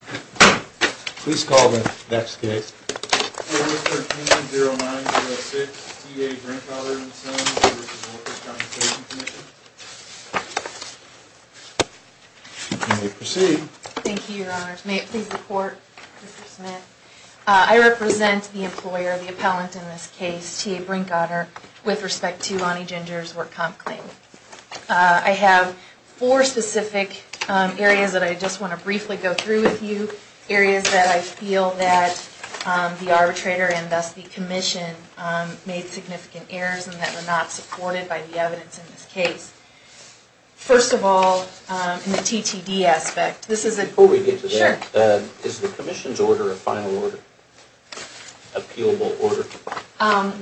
Please call the next case. Order, Mr. T90906, T.A. Brinkotter & Sons v. Workers' Compensation Commission. You may proceed. Thank you, Your Honors. May it please the Court, Mr. Smith? I represent the employer, the appellant in this case, T.A. Brinkotter, with respect to Lonnie Ginger's work comp claim. I have four specific areas that I just want to briefly go through with you, areas that I feel that the arbitrator and thus the commission made significant errors and that were not supported by the evidence in this case. First of all, in the TTD aspect, this is a... Before we get to that, is the commission's order a final order, appealable order?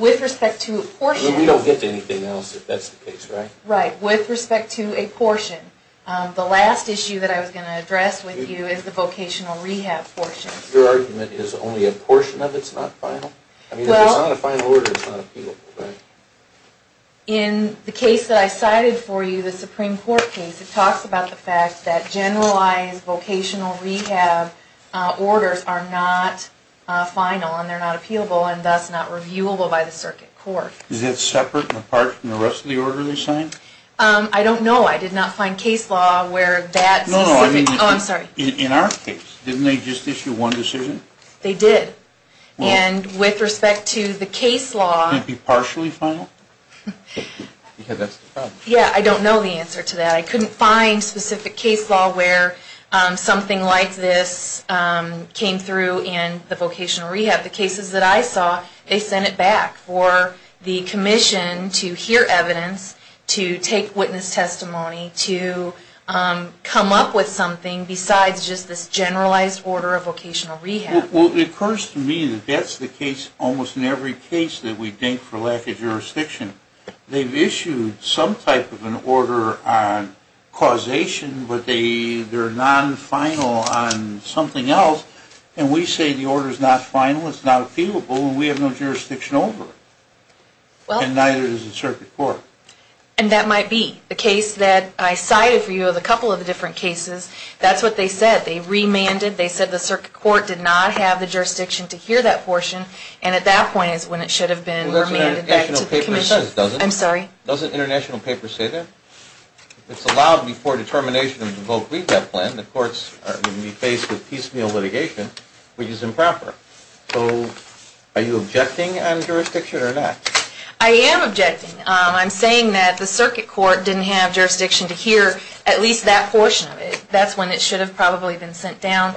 With respect to apportions... We don't get to anything else if that's the case, right? Right, with respect to a portion. The last issue that I was going to address with you is the vocational rehab portion. Your argument is only a portion of it's not final? Well... I mean, if it's not a final order, it's not appealable, right? In the case that I cited for you, the Supreme Court case, it talks about the fact that generalized vocational rehab orders are not final and they're not appealable and thus not reviewable by the circuit court. Is that separate and apart from the rest of the order they signed? I don't know. I did not find case law where that specific... No, no, I mean... Oh, I'm sorry. In our case, didn't they just issue one decision? They did. Well... And with respect to the case law... Could it be partially final? Because that's the problem. Yeah, I don't know the answer to that. I couldn't find specific case law where something like this came through in the vocational rehab. The cases that I saw, they sent it back for the commission to hear evidence, to take witness testimony, to come up with something besides just this generalized order of vocational rehab. Well, it occurs to me that that's the case almost in every case that we date for lack of jurisdiction. They've issued some type of an order on causation, but they're non-final on something else, and we say the order's not final, it's not appealable, and we have no jurisdiction over it. And neither does the circuit court. And that might be the case that I cited for you of a couple of the different cases. That's what they said. They remanded, they said the circuit court did not have the jurisdiction to hear that portion, and at that point is when it should have been remanded back to the commission. It says it doesn't. I'm sorry? Doesn't international papers say that? It's allowed before determination of the vocational rehab plan. The courts are going to be faced with piecemeal litigation, which is improper. So are you objecting on jurisdiction or not? I am objecting. I'm saying that the circuit court didn't have jurisdiction to hear at least that portion of it. That's when it should have probably been sent down.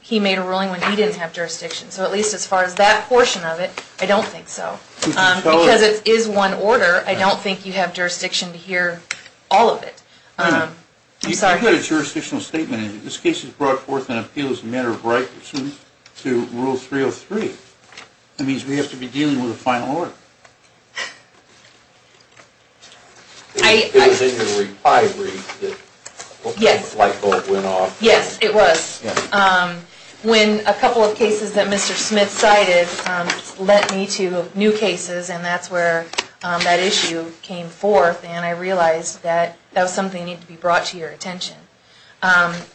He made a ruling when he didn't have jurisdiction, so at least as far as that portion of it, I don't think so. Because it is one order, I don't think you have jurisdiction to hear all of it. You put a jurisdictional statement in it. This case has brought forth an appeal as a matter of right to rule 303. That means we have to be dealing with a final order. It was in your reply read that the light bulb went off. Yes, it was. When a couple of cases that Mr. Smith cited led me to new cases, and that's where that issue came forth, and I realized that that was something that needed to be brought to your attention.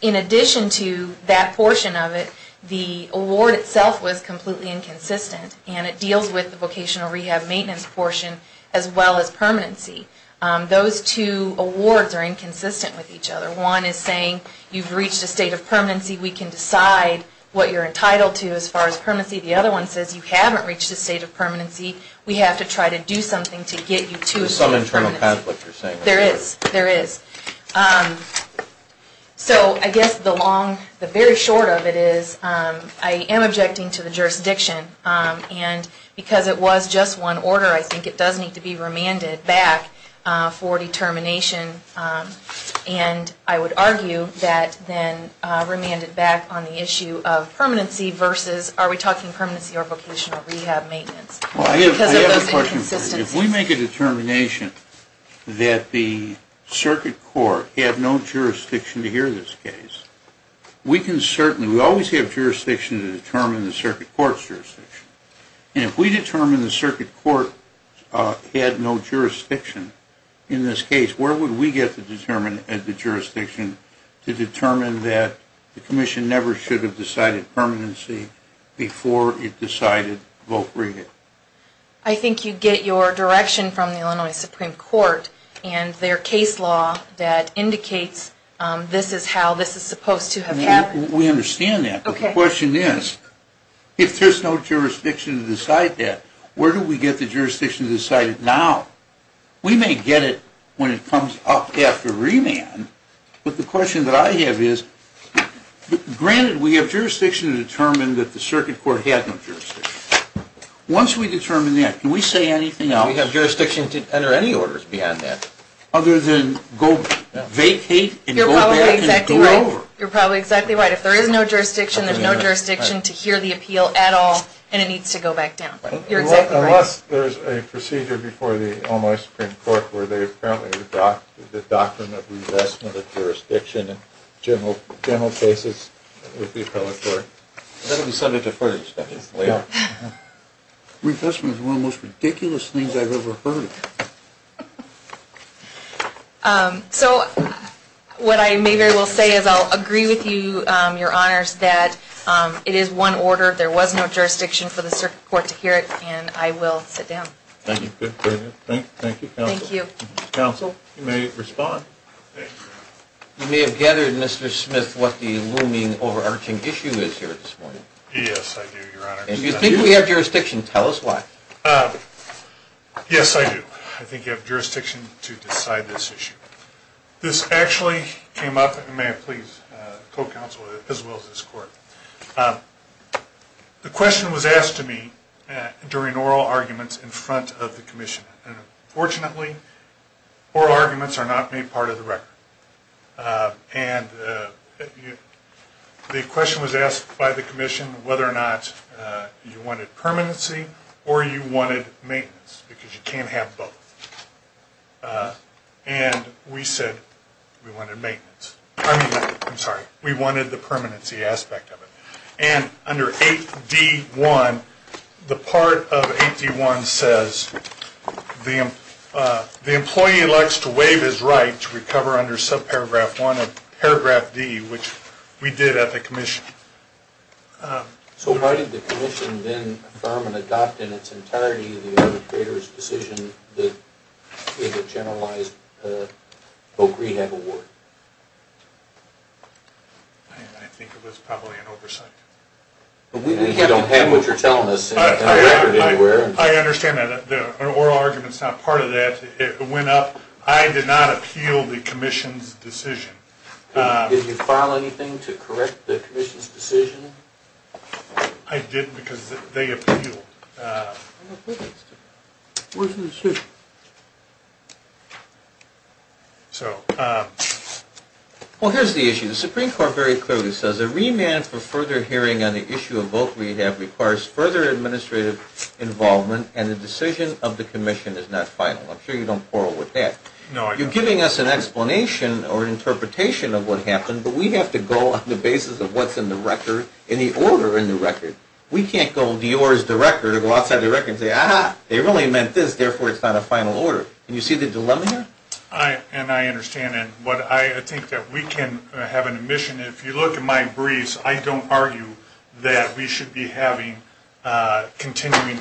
In addition to that portion of it, the award itself was completely inconsistent, and it deals with the vocational rehab maintenance portion as well as permanency. Those two awards are inconsistent with each other. One is saying you've reached a state of permanency. We can decide what you're entitled to as far as permanency. The other one says you haven't reached a state of permanency. We have to try to do something to get you to a state of permanency. There's some internal conflict you're saying. There is. So I guess the very short of it is I am objecting to the jurisdiction, and because it was just one order, I think it does need to be remanded back for determination. And I would argue that then remanded back on the issue of permanency versus, are we talking permanency or vocational rehab maintenance because of those inconsistencies? I have a question for you. If we make a determination that the circuit court had no jurisdiction to hear this case, we can certainly, we always have jurisdiction to determine the circuit court's jurisdiction. And if we determine the circuit court had no jurisdiction in this case, where would we get to determine the jurisdiction to determine that the commission never should have decided permanency before it decided voc rehab? I think you get your direction from the Illinois Supreme Court and their case law that indicates this is how this is supposed to have happened. We understand that. Okay. My question is, if there's no jurisdiction to decide that, where do we get the jurisdiction to decide it now? We may get it when it comes up after remand. But the question that I have is, granted, we have jurisdiction to determine that the circuit court had no jurisdiction. Once we determine that, can we say anything else? We have jurisdiction to enter any orders beyond that. Other than go vacate and go back and go over. You're probably exactly right. If there is no jurisdiction, there's no jurisdiction to hear the appeal at all, and it needs to go back down. You're exactly right. Unless there's a procedure before the Illinois Supreme Court where they apparently have dropped the doctrine of revestment of jurisdiction in general cases with the appellate court. That would be subject to further studies. Revestment is one of the most ridiculous things I've ever heard. So what I maybe will say is I'll agree with you, Your Honors, that it is one order. There was no jurisdiction for the circuit court to hear it, and I will sit down. Thank you. Thank you. Thank you. Counsel, you may respond. You may have gathered, Mr. Smith, what the looming overarching issue is here this morning. Yes, I do, Your Honors. If you think we have jurisdiction, tell us why. Yes, I do. I think you have jurisdiction to decide this issue. This actually came up, and may I please, co-counsel as well as this court. The question was asked to me during oral arguments in front of the commission, and unfortunately oral arguments are not made part of the record. The question was asked by the commission whether or not you wanted permanency or you wanted maintenance, because you can't have both. And we said we wanted maintenance. I'm sorry, we wanted the permanency aspect of it. And under 8D1, the part of 8D1 says the employee elects to waive his right to recover under subparagraph 1 of paragraph D, which we did at the commission. So why did the commission then affirm and adopt in its entirety the arbitrator's decision that we would generalize the Oak Rehab Award? I think it was probably an oversight. We don't have what you're telling us in the record anywhere. I understand that. The oral argument is not part of that. It went up. I did not appeal the commission's decision. Did you file anything to correct the commission's decision? I didn't because they appealed. Well, here's the issue. The Supreme Court very clearly says a remand for further hearing on the issue of Oak Rehab requires further administrative involvement, and the decision of the commission is not final. I'm sure you don't quarrel with that. You're giving us an explanation or an interpretation of what happened, but we have to go on the basis of what's in the record, in the order in the record. We can't go to yours, the record, or go outside the record and say, ah-ha, they really meant this, therefore it's not a final order. Do you see the dilemma here? And I understand that. I think that we can have an admission. If you look at my briefs, I don't argue that we should be having continuing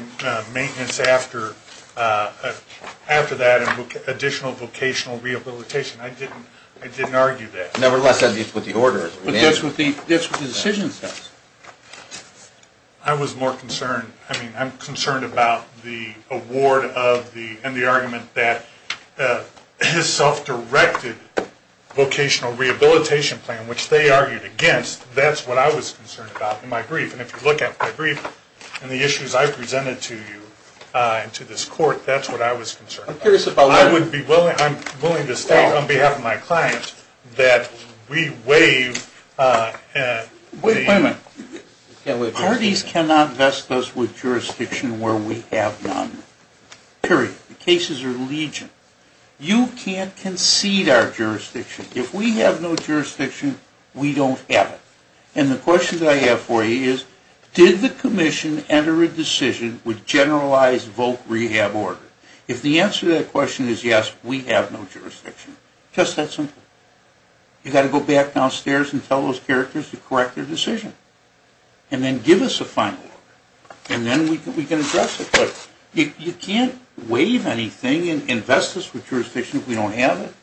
maintenance after that and additional vocational rehabilitation. I didn't argue that. Nevertheless, that's what the order is. But that's what the decision says. I was more concerned. I mean, I'm concerned about the award and the argument that his self-directed vocational rehabilitation plan, which they argued against, that's what I was concerned about in my brief. And if you look at my brief and the issues I presented to you and to this court, that's what I was concerned about. I'm willing to state on behalf of my client that we waive the ---- Wait a minute. Parties cannot vest us with jurisdiction where we have none. Period. The cases are legion. You can't concede our jurisdiction. If we have no jurisdiction, we don't have it. And the question that I have for you is, did the commission enter a decision with generalized voc rehab order? If the answer to that question is yes, we have no jurisdiction. Just that simple. You've got to go back downstairs and tell those characters to correct their decision and then give us a final order. And then we can address it. But you can't waive anything and invest us with jurisdiction if we don't have it.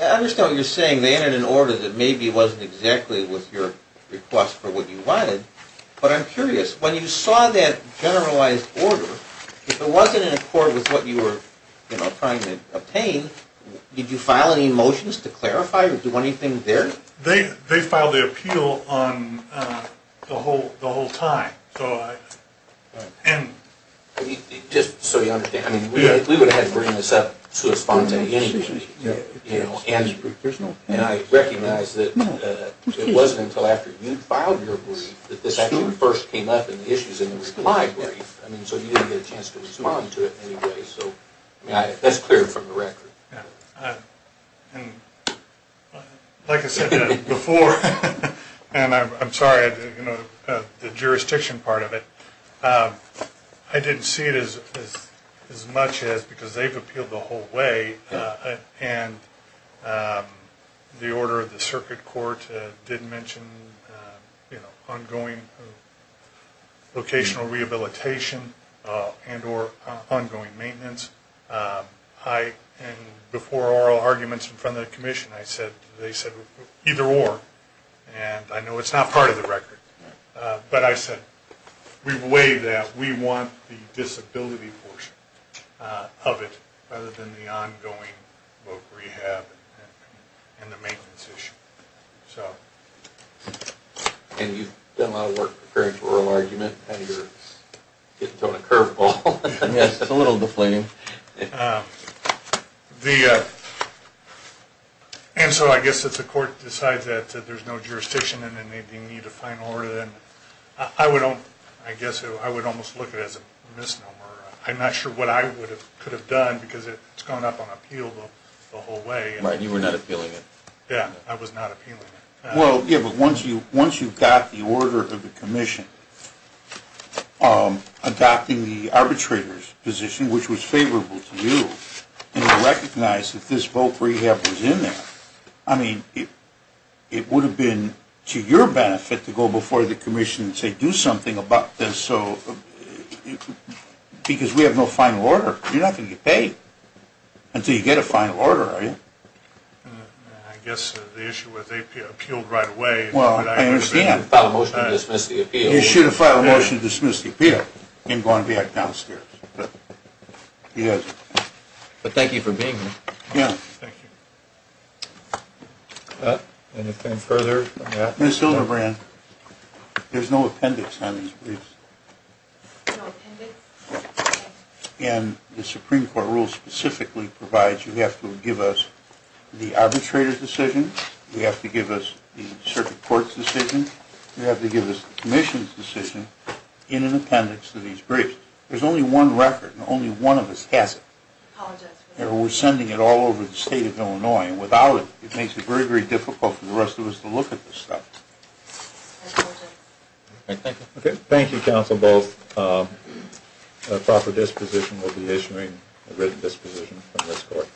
I understand what you're saying. They entered an order that maybe wasn't exactly what your request for what you wanted. But I'm curious. When you saw that generalized order, if it wasn't in accord with what you were trying to obtain, did you file any motions to clarify or do anything there? They filed the appeal the whole time. Just so you understand. We would have had to bring this up to a response anyway. And I recognize that it wasn't until after you filed your brief that this actually first came up in the issues in the reply brief. So you didn't get a chance to respond to it in any way. That's clear from the record. Like I said before, and I'm sorry, the jurisdiction part of it, I didn't see it as much as because they've appealed the whole way. And the order of the circuit court did mention ongoing vocational rehabilitation and or ongoing maintenance. And before oral arguments in front of the commission, they said either or. And I know it's not part of the record. But I said we believe that we want the disability portion of it rather than the ongoing voc rehab and the maintenance issue. And you've done a lot of work preparing for oral argument and you're getting thrown a curve ball. Yes, it's a little deflating. And so I guess if the court decides that there's no jurisdiction and they need a final order, then I would almost look at it as a misnomer. I'm not sure what I could have done because it's gone up on appeal the whole way. Right, you were not appealing it. Yeah, I was not appealing it. Well, yeah, but once you've got the order of the commission adopting the arbitrator's position, which was favorable to you, and you recognize that this voc rehab was in there, I mean, it would have been to your benefit to go before the commission and say do something about this because we have no final order. You're not going to get paid until you get a final order, are you? I guess the issue was they appealed right away. Well, I understand. They should have filed a motion to dismiss the appeal. They should have filed a motion to dismiss the appeal and gone back downstairs. But thank you for being here. Yeah. Thank you. Anything further? Ms. Hildebrand, there's no appendix on these briefs. No appendix? And the Supreme Court rule specifically provides you have to give us the arbitrator's decision, you have to give us the circuit court's decision, you have to give us the commission's decision in an appendix to these briefs. There's only one record, and only one of us has it. We're sending it all over the state of Illinois, and without it, it makes it very, very difficult for the rest of us to look at this stuff. Thank you. Okay. Thank you, Counsel Bowles. A proper disposition will be issuing a written disposition from this court.